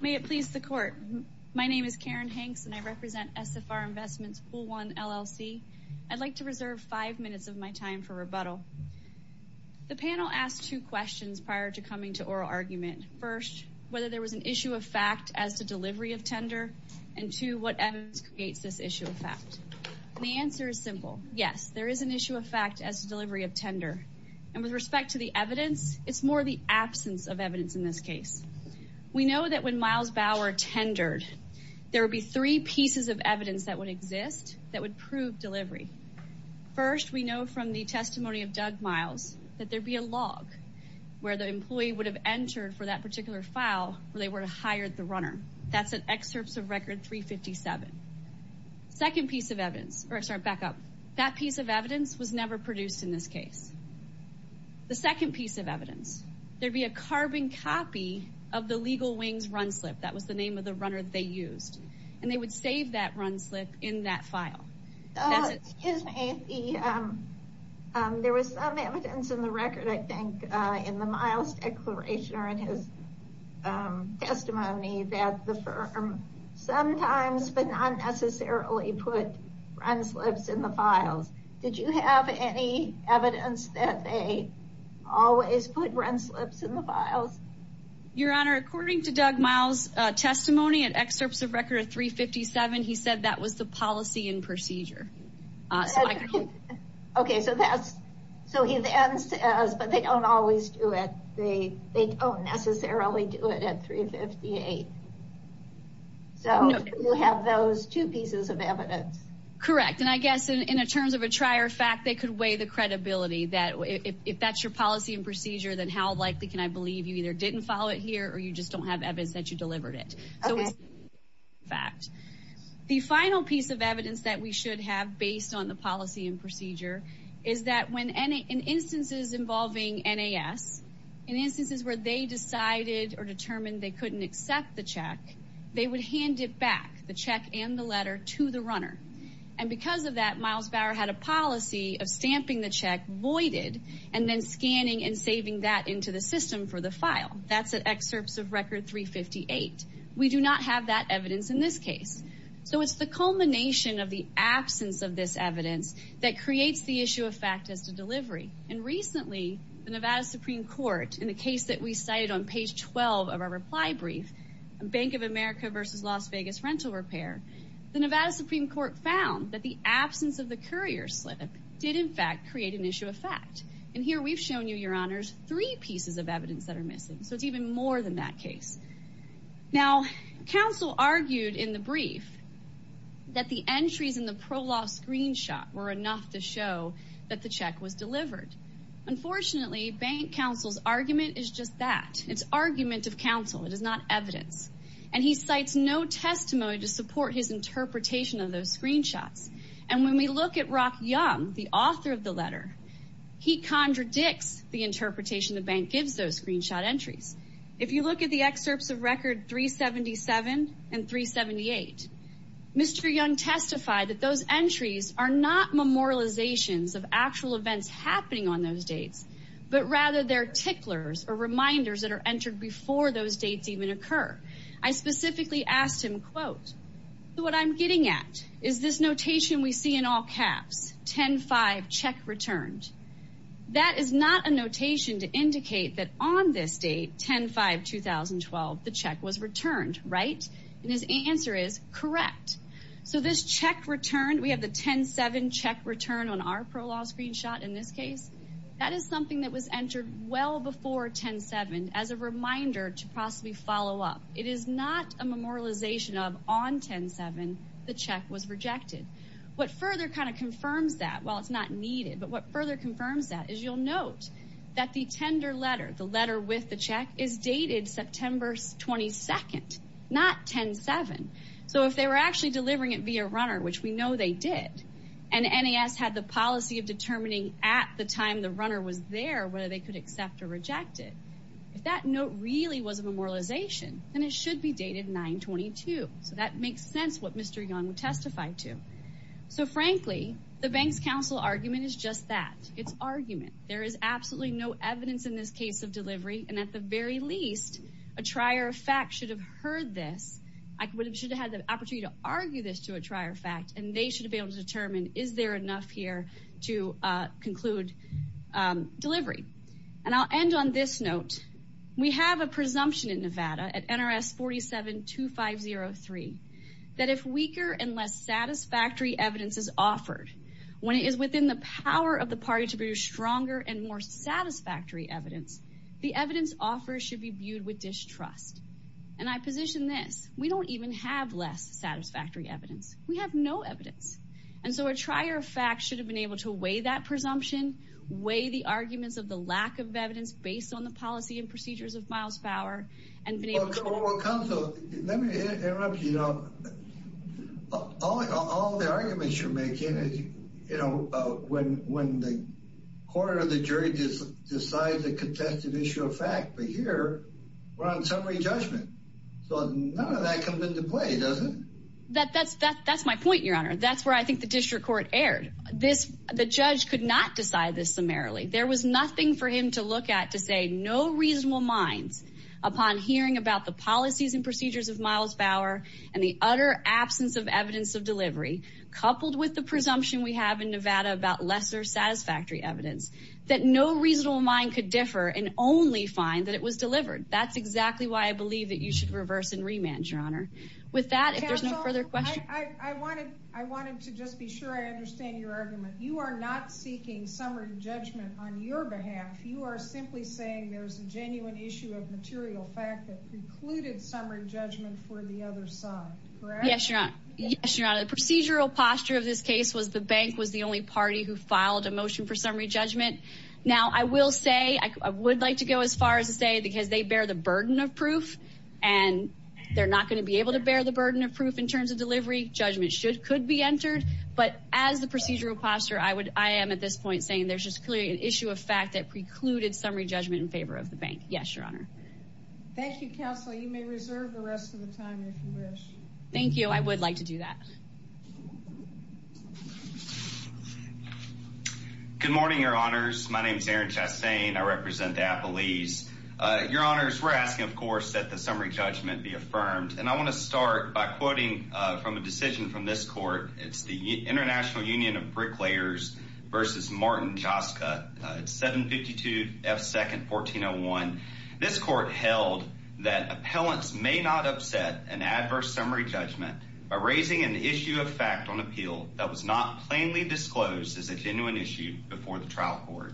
May it please the court. My name is Karen Hanks, and I represent SFR Investments Pool 1, LLC. I'd like to reserve five minutes of my time for rebuttal. The panel asked two questions prior to coming to oral argument. First, whether there was an issue of fact as to delivery of tender, and two, what evidence creates this issue of fact? The answer is simple. Yes, there is an issue of fact as to delivery of tender. And with respect to the evidence, it's more the absence of evidence in this case. We know that when Miles Bauer tendered, there would be three pieces of evidence that would exist that would prove delivery. First, we know from the testimony of Doug Miles that there'd be a log where the employee would have entered for that particular file where they were to hire the runner. That's at excerpts of record 357. Second piece of evidence, or sorry, back up, that piece of evidence was never produced in this case. The second piece of evidence, there'd be a carbon copy of the legal wings run slip. That was the name of the runner that they used. And they would save that run slip in that file. Excuse me, there was some evidence in the record, I think, in the Miles declaration or in his testimony that the firm sometimes, but not the run slips in the files. Your Honor, according to Doug Miles' testimony at excerpts of record 357, he said that was the policy and procedure. Okay, so he then says, but they don't always do it. They don't necessarily do it at 358. So you have those two pieces of evidence. Correct. And I guess in terms of a trier fact, they could weigh the credibility that if that's your policy and procedure, then how likely can I believe you either didn't follow it here or you just don't have evidence that you delivered it. So it's a trier fact. The final piece of evidence that we should have based on the policy and procedure is that in instances involving NAS, in instances where they decided or determined they couldn't accept the check, they would hand it back, the check and the letter, to the runner. And because of that, Miles Bauer had a policy of stamping the check voided and then scanning and saving that into the system for the file. That's at excerpts of record 358. We do not have that evidence in this case. So it's the culmination of the absence of this evidence that creates the issue of fact as to delivery. And recently, the Nevada Supreme Court, in the case that we cited on page 12 of our reply brief, Bank of America versus Las Vegas Rental Repair, the Nevada Supreme Court found that the absence of the courier slip did, in fact, create an issue of fact. And here we've shown you, your honors, three pieces of evidence that are missing. So it's even more than that case. Now, counsel argued in the brief that the entries in the pro-law screenshot were enough to show that the check was delivered. Unfortunately, Bank counsel's argument is just that. It's argument of counsel. It is not evidence. And he cites no testimony to support his interpretation of those screenshots. And when we look at Rock Young, the author of the letter, he contradicts the interpretation the bank gives those screenshot entries. If you look at the excerpts of record 377 and 378, Mr. Young testified that those entries are not memorializations of actual events happening on those dates, but rather they're ticklers or reminders that are entered before those dates even occur. I specifically asked him, so what I'm getting at is this notation we see in all caps, 10-5 CHECK RETURNED. That is not a notation to indicate that on this date, 10-5, 2012, the check was returned, right? And his answer is correct. So this CHECK RETURNED, we have the 10-7 CHECK RETURNED on our pro-law screenshot in this case. That is something that was entered well before 10-7 as a reminder to possibly follow up. It is not a memorialization of on 10-7, the check was rejected. What further kind of confirms that, well, it's not needed, but what further confirms that is you'll note that the tender letter, the letter with the check is dated September 22nd, not 10-7. So if they were actually delivering it via runner, which we know they did, and NAS had the policy of determining at the time the runner was there, whether they could accept or reject it, if that note really was a memorialization, then it should be dated 9-22. So that makes sense what Mr. Young testified to. So frankly, the Bank's Counsel argument is just that. It's argument. There is absolutely no evidence in this case of delivery, and at the very least, a trier of fact should have heard this, should have had the opportunity to argue this to a trier of fact, and they should have been able to determine, is there enough here to conclude delivery? And I'll end on this note. We have a presumption in Nevada at NRS 47-2503 that if weaker and less satisfactory evidence is offered, when it is within the power of the party to produce stronger and more satisfactory evidence, the evidence offered should be viewed with distrust. And I position this. We don't even have less satisfactory evidence. We have no evidence. And so a trier of fact should have been able to weigh that presumption, weigh the arguments of the lack of evidence based on the policy and procedures of Miles Bauer, and been able to... Well Counsel, let me interrupt you now. All the arguments you're making is, you know, when the court or the jury decides a contested issue of fact, but here we're on summary judgment. So none of that comes into play, does it? That's my point, your honor. That's where I think the district court erred. The judge could not decide this summarily. There was nothing for him to look at to say no reasonable minds upon hearing about the policies and procedures of Miles Bauer and the utter absence of evidence of delivery, coupled with the presumption we have in Nevada about lesser satisfactory evidence, that no reasonable mind could differ and only find that it was delivered. That's exactly why I believe that you should reverse and remand, your honor. With that, if there's no further question... I wanted to just be sure I understand your argument. You are not seeking summary judgment on your behalf. You are simply saying there's a genuine issue of material fact that precluded summary judgment for the other side, correct? Yes, your honor. Yes, your honor. The procedural posture of this case was the bank was the only party who filed a motion for summary judgment. Now, I will say, I would like to go as far as to say because they bear the burden of proof and they're not going to be able to bear the burden of proof in terms of delivery. Judgment could be entered, but as the procedural posture, I am at this point saying there's just clearly an issue of fact that precluded summary judgment in favor of the bank. Yes, your honor. Thank you, counsel. You may reserve the rest of time if you wish. Thank you. I would like to do that. Good morning, your honors. My name is Aaron Chassain. I represent Appalese. Your honors, we're asking, of course, that the summary judgment be affirmed. And I want to start by quoting from a decision from this court. It's the International Union of Bricklayers versus Martin Joska. It's 752 F. Second 1401. This court held that appellants may not upset an adverse summary judgment by raising an issue of fact on appeal that was not plainly disclosed as a genuine issue before the trial court.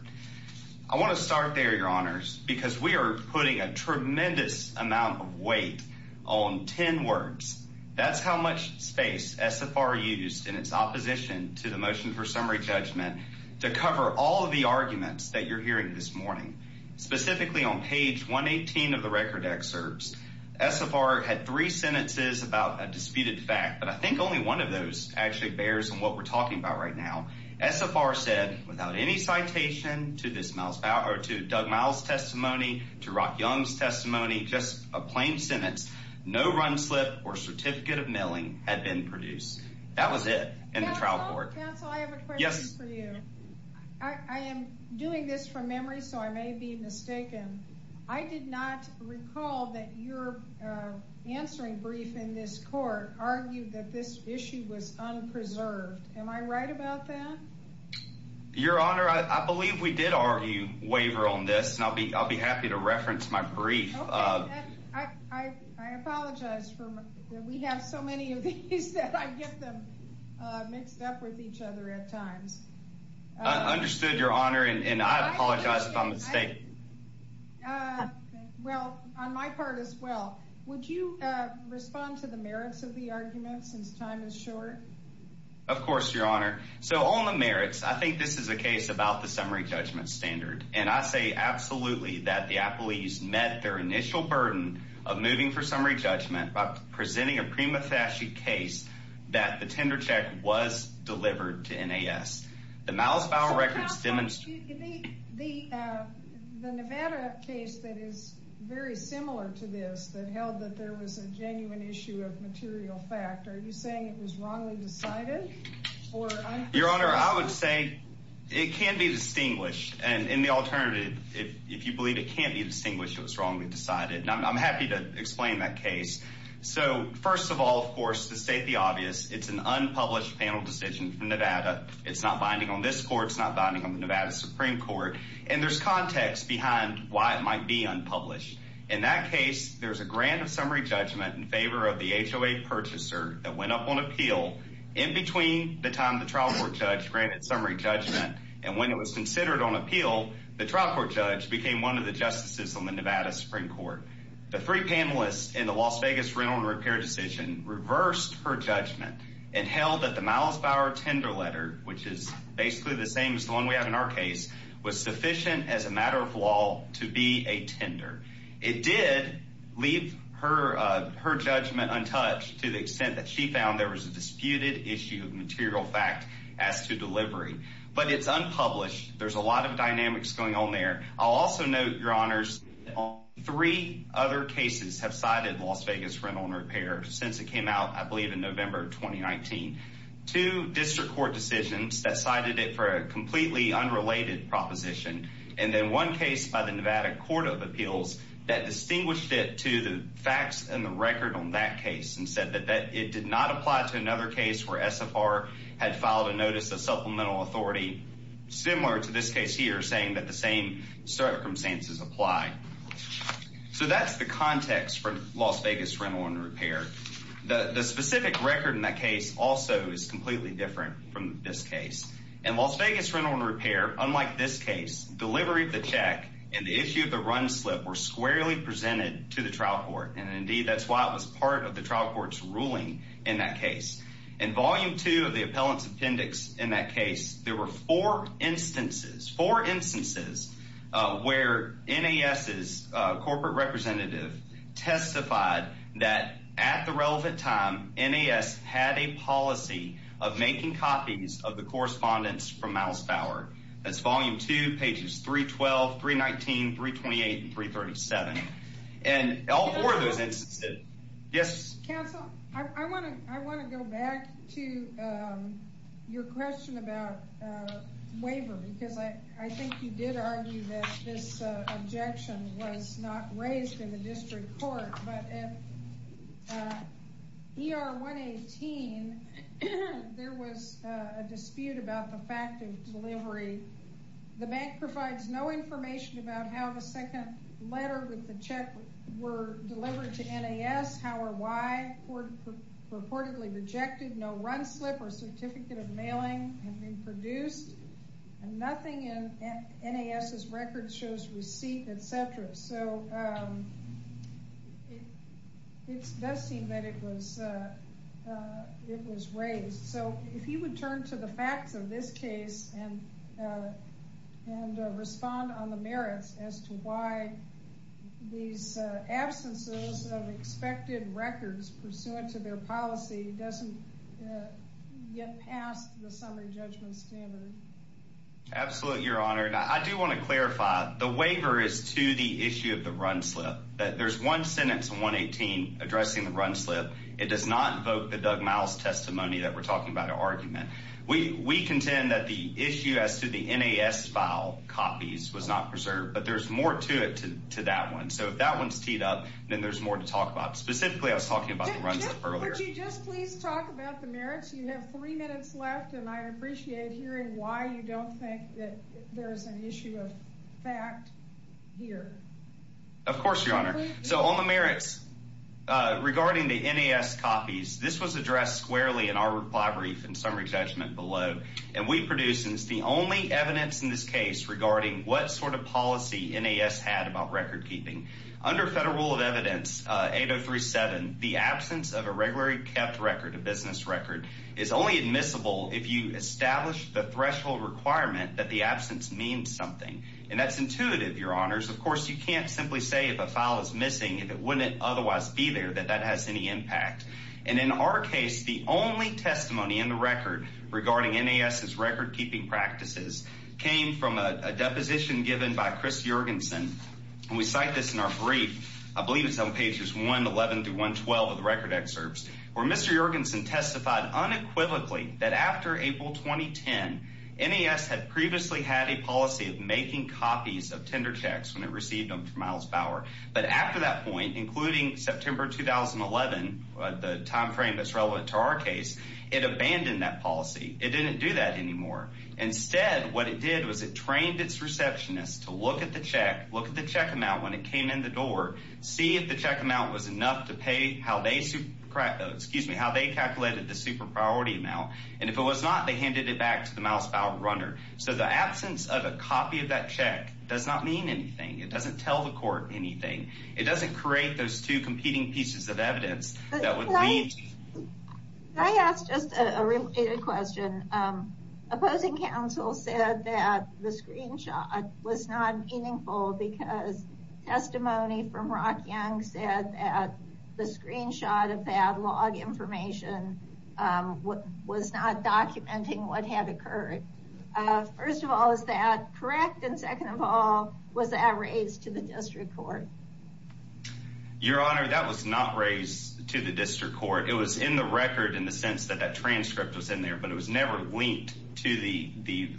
I want to start there, your honors, because we are putting a tremendous amount of weight on 10 words. That's how much space SFR used in its opposition to the to cover all of the arguments that you're hearing this morning, specifically on page 118 of the record excerpts. SFR had three sentences about a disputed fact, but I think only one of those actually bears on what we're talking about right now. SFR said without any citation to this mouth or to Doug Miles testimony, to Rock Young's testimony, just a plain sentence, no run slip or certificate of milling had been produced. That was it in the trial court. Counsel, I have a question for you. I am doing this from memory, so I may be mistaken. I did not recall that your answering brief in this court argued that this issue was unpreserved. Am I right about that? Your honor, I believe we did argue waiver on this, and I'll be happy to reference my brief. I apologize. We have so many of these that I get them mixed up with each other at times. I understood, your honor, and I apologize if I'm mistaken. Well, on my part as well, would you respond to the merits of the argument since time is short? Of course, your honor. So on the merits, I think this is a case about the summary judgment standard, and I say absolutely that the appellees met their initial burden of moving for summary judgment by presenting a prima facie case that the tender check was delivered to NAS. The Miles file records demonstrate the Nevada case that is very similar to this that held that there was a genuine issue of material fact. Are you saying it was wrongly decided? Your honor, I would say it can be distinguished, and in the alternative, if you believe it can't be distinguished, it was wrongly decided, and I'm happy to explain that case. So first of all, of course, to state the obvious, it's an unpublished panel decision from Nevada. It's not binding on this court. It's not binding on the Nevada Supreme Court, and there's context behind why it might be unpublished. In that case, there's a grant of summary judgment in favor of the HOA purchaser that went up on appeal in between the time the trial court judge granted summary judgment, and when it was considered on appeal, the trial court judge became one of the justices on the Nevada Supreme Court. The three panelists in the Las Vegas rental and repair decision reversed her judgment and held that the Miles Bauer tender letter, which is basically the same as the one we have in our case, was sufficient as a matter of law to be a tender. It did leave her judgment untouched to the extent that she found there was a disputed issue of material fact as to delivery, but it's unpublished. There's a lot of dynamics going on there. I'll also note, your honors, three other cases have cited Las Vegas rental and repair since it came out, I believe in November of 2019. Two district court decisions that cited it for a completely unrelated proposition, and then one case by the Nevada Court of Appeals that distinguished it to the facts and the record on that case and said it did not apply to another case where SFR had filed a notice of supplemental authority similar to this case here, saying that the same circumstances apply. So that's the context for Las Vegas rental and repair. The specific record in that case also is completely different from this case. In Las Vegas rental and repair, unlike this case, delivery of the check and the issue of the run slip were squarely presented to the trial court, and indeed that's why it was part of the ruling in that case. In volume two of the appellant's appendix in that case, there were four instances where NAS's corporate representative testified that at the relevant time NAS had a policy of making copies of the correspondence from Miles Fowler. That's volume two, pages 312, 319, 328, and 337. And all four of those instances, yes? Counsel, I want to go back to your question about waiver, because I think you did argue that this objection was not raised in the district court. But in ER 118, there was a dispute about the fact of delivery. The bank provides no second letter with the check were delivered to NAS. How or why? Reportedly rejected. No run slip or certificate of mailing had been produced. And nothing in NAS's record shows receipt, etc. So it does seem that it was raised. So if you would turn to the facts of this case and respond on the merits as to why these absences of expected records pursuant to their policy doesn't get past the summary judgment standard. Absolutely, your honor. I do want to clarify. The waiver is to the issue of the run slip. There's one sentence in 118 addressing the run slip. It does not invoke the Doug Miles testimony that we're talking about an argument. We contend that the issue as to the NAS file copies was not preserved. But there's more to it to that one. So if that one's teed up, then there's more to talk about. Specifically, I was talking about the run slip earlier. Would you just please talk about the merits? You have three minutes left, and I appreciate hearing why you don't think that there is an issue of fact here. Of course, your honor. So on the merits, regarding the NAS copies, this was addressed squarely in our reply brief and reproduces the only evidence in this case regarding what sort of policy NAS had about record keeping. Under federal rule of evidence 8037, the absence of a regularly kept record, a business record, is only admissible if you establish the threshold requirement that the absence means something. And that's intuitive, your honors. Of course, you can't simply say if a file is missing, if it wouldn't otherwise be there, that that has any impact. And in our case, the only testimony in the record regarding NAS's record keeping practices came from a deposition given by Chris Jorgensen. We cite this in our brief. I believe it's on pages 111 through 112 of the record excerpts where Mr. Jorgensen testified unequivocally that after April 2010, NAS had previously had a policy of making copies of tender checks when it received them from Miles Bauer. But after that point, including September 2011, the time frame that's relevant to our case, it abandoned that policy. It didn't do that anymore. Instead, what it did was it trained its receptionist to look at the check, look at the check amount when it came in the door, see if the check amount was enough to pay how they calculated the super priority amount. And if it was not, they handed it back to the Miles Bauer runner. So the absence of a copy of that check does not mean anything. It doesn't tell the court anything. It doesn't create those two competing pieces of evidence that would lead. Can I ask just a related question? Opposing counsel said that the screenshot was not meaningful because testimony from Rock Young said that the screenshot of that log information was not documenting what had occurred. First of all, is that correct? And second of all, was that raised to the district court? Your Honor, that was not raised to the district court. It was in the record in the sense that that transcript was in there, but it was never linked to the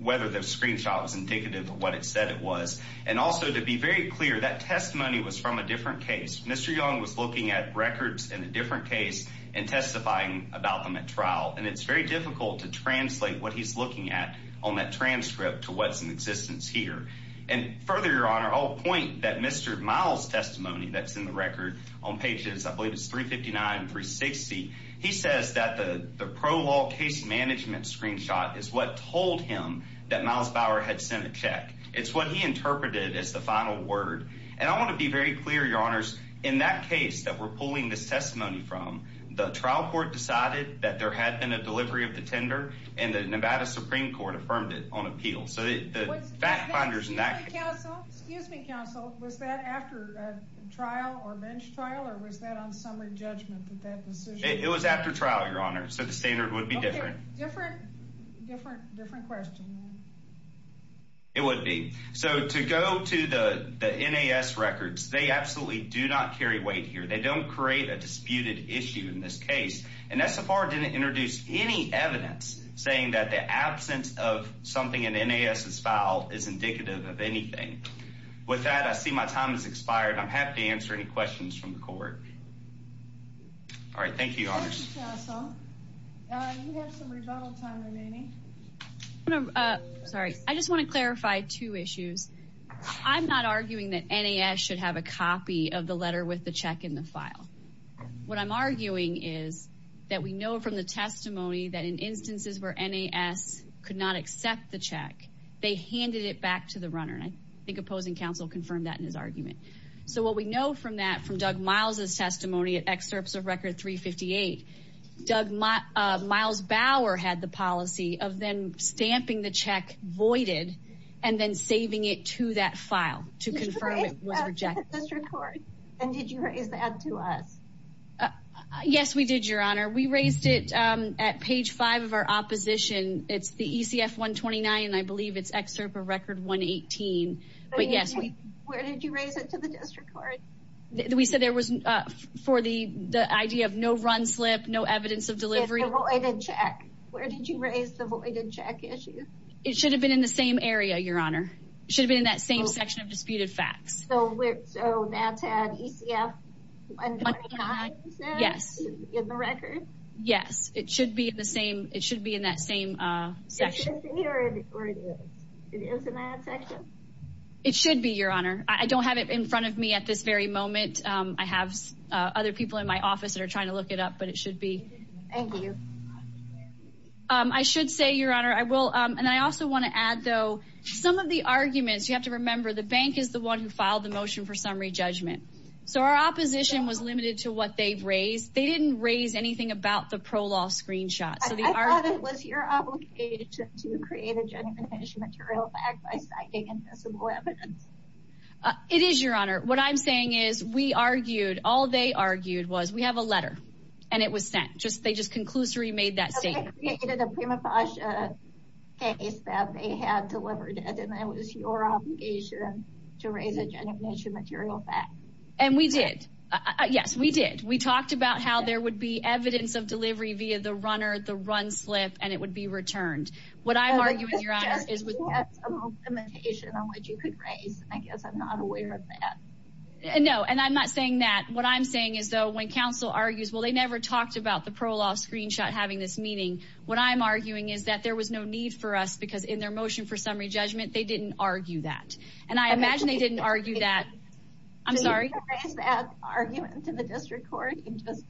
whether the screenshot was indicative of what it said it was. And also to be very clear, that testimony was from a different case. Mr. Young was looking at records in a different case and testifying about them at trial. And it's very difficult to translate what he's looking at on that transcript to what's in existence here. And further, Your Honor, I'll point that Mr. Miles' testimony that's in the record on pages, I believe it's 359 and 360. He says that the pro-law case management screenshot is what told him that Miles Bauer had sent a check. It's what he interpreted as the final word. And I want to be very clear, Your Honors, in that case that we're pulling this testimony from, the trial court decided that there had been a delivery of the on appeal. So the fact finders in that case... Excuse me, counsel. Was that after a trial or bench trial or was that on summary judgment that that decision... It was after trial, Your Honor. So the standard would be different. Different question. It would be. So to go to the NAS records, they absolutely do not carry weight here. They don't create a disputed issue in this case. And SFR didn't introduce any evidence saying that the something in NAS's file is indicative of anything. With that, I see my time has expired. I'm happy to answer any questions from the court. All right. Thank you, Your Honors. Sorry. I just want to clarify two issues. I'm not arguing that NAS should have a copy of the letter with the check in the file. What I'm arguing is that we know from the testimony that in instances where NAS could not accept the check, they handed it back to the runner. And I think opposing counsel confirmed that in his argument. So what we know from that, from Doug Miles's testimony at excerpts of record 358, Doug Miles Bauer had the policy of then stamping the check voided and then saving it to that file to confirm it was rejected. And did you raise that to us? Yes, we did, Your Honor. We raised it at page five of our opposition. It's the ECF 129, and I believe it's excerpt of record 118. But yes, we... Where did you raise it to the district court? We said there was for the idea of no run slip, no evidence of delivery. It's a voided check. Where did you raise the voided check issue? It should have been in the same area, Your Honor. It should have been in that same section of disputed facts. So that's at ECF 129? Yes. In the record? Yes, it should be in that same section. It should be, Your Honor. I don't have it in front of me at this very moment. I have other people in my office that are trying to look it up, but it should be. Thank you. I should say, Your Honor, I will... And I also want to add, though, some of the arguments, you have to remember, the bank is the one who filed the motion for summary judgment. So our opposition was limited to what they've raised. They didn't raise anything about the pro-law screenshot. I thought it was your obligation to create a genuine issue material fact by citing invisible evidence. It is, Your Honor. What I'm saying is, we argued. All they argued was, we have a letter, and it was sent. They just conclusively made that a prima facie case that they had delivered, and it was your obligation to raise a genuine issue material fact. And we did. Yes, we did. We talked about how there would be evidence of delivery via the runner, the run slip, and it would be returned. What I'm arguing, Your Honor, is we had some limitation on what you could raise. I guess I'm not aware of that. No, and I'm not saying that. What I'm saying is, though, when counsel argues, well, they never talked about the pro-law screenshot having this meaning. What I'm arguing is that there was no need for us, because in their motion for summary judgment, they didn't argue that. And I imagine they didn't argue that. I'm sorry. Did you raise that argument to the district court?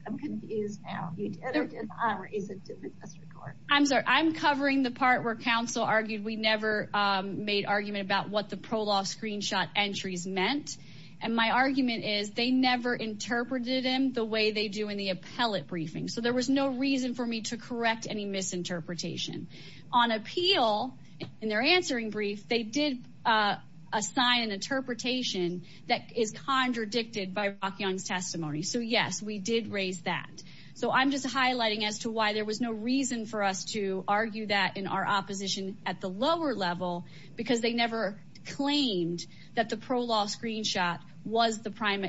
I'm confused now. You did or did not raise it to the district court? I'm sorry. I'm covering the part where counsel argued we never made argument about what the pro-law screenshot entries meant. And my argument is, they never interpreted them the way they do in the appellate briefing. So there was no reason for me to correct any misinterpretation. On appeal, in their answering brief, they did assign an interpretation that is contradicted by Rock Young's testimony. So, yes, we did raise that. So I'm just highlighting as to why there was no reason for us to argue that in our opposition at the lower level, because they never claimed that the pro-law screenshot was the prime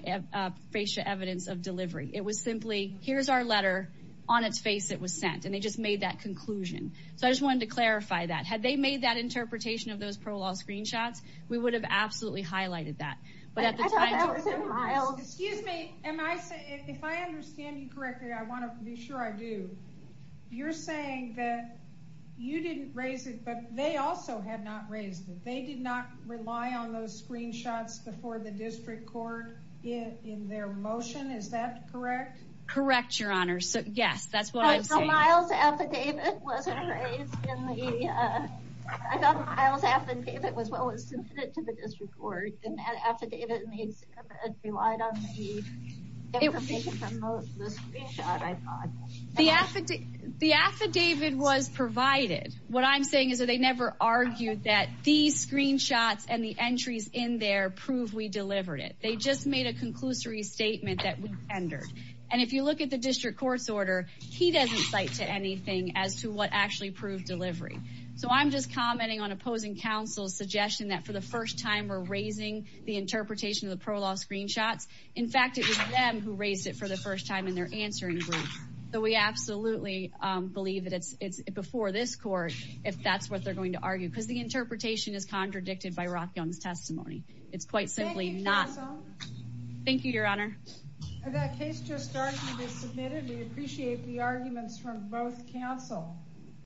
facia evidence of delivery. It was simply, here's our letter. On its face, it was sent. And they just made that conclusion. So I just wanted to clarify that. Had they made that interpretation of those pro-law screenshots, we would have absolutely highlighted that. But at the time... Excuse me. If I understand you correctly, I want to be sure I do. You're saying that you didn't raise it, but they also had not raised it. They did not rely on those screenshots before the district court in their motion. Is that correct? Correct, Your Honor. Yes, that's what I'm saying. Miles' affidavit wasn't raised in the... I thought Miles' affidavit was what was submitted to the district court. And that affidavit relied on the information from the screenshot, I thought. The affidavit was provided. What I'm saying is that they never argued that these screenshots and the entries in there prove we delivered it. They just made a conclusory statement that we tendered. And if you look at the district court's order, he doesn't cite to anything as to what actually proved delivery. So I'm just commenting on opposing counsel's suggestion that for the first time we're raising the interpretation of the pro-law screenshots. In fact, it was them who raised it for the first time in their answering group. So we absolutely believe that it's before this court, if that's what they're going to argue. Because the interpretation is contradicted by Rock Young's testimony. It's quite simply not... Thank you, counsel. Thank you, Your Honor. That case just started to be submitted. We appreciate the arguments from both counsel.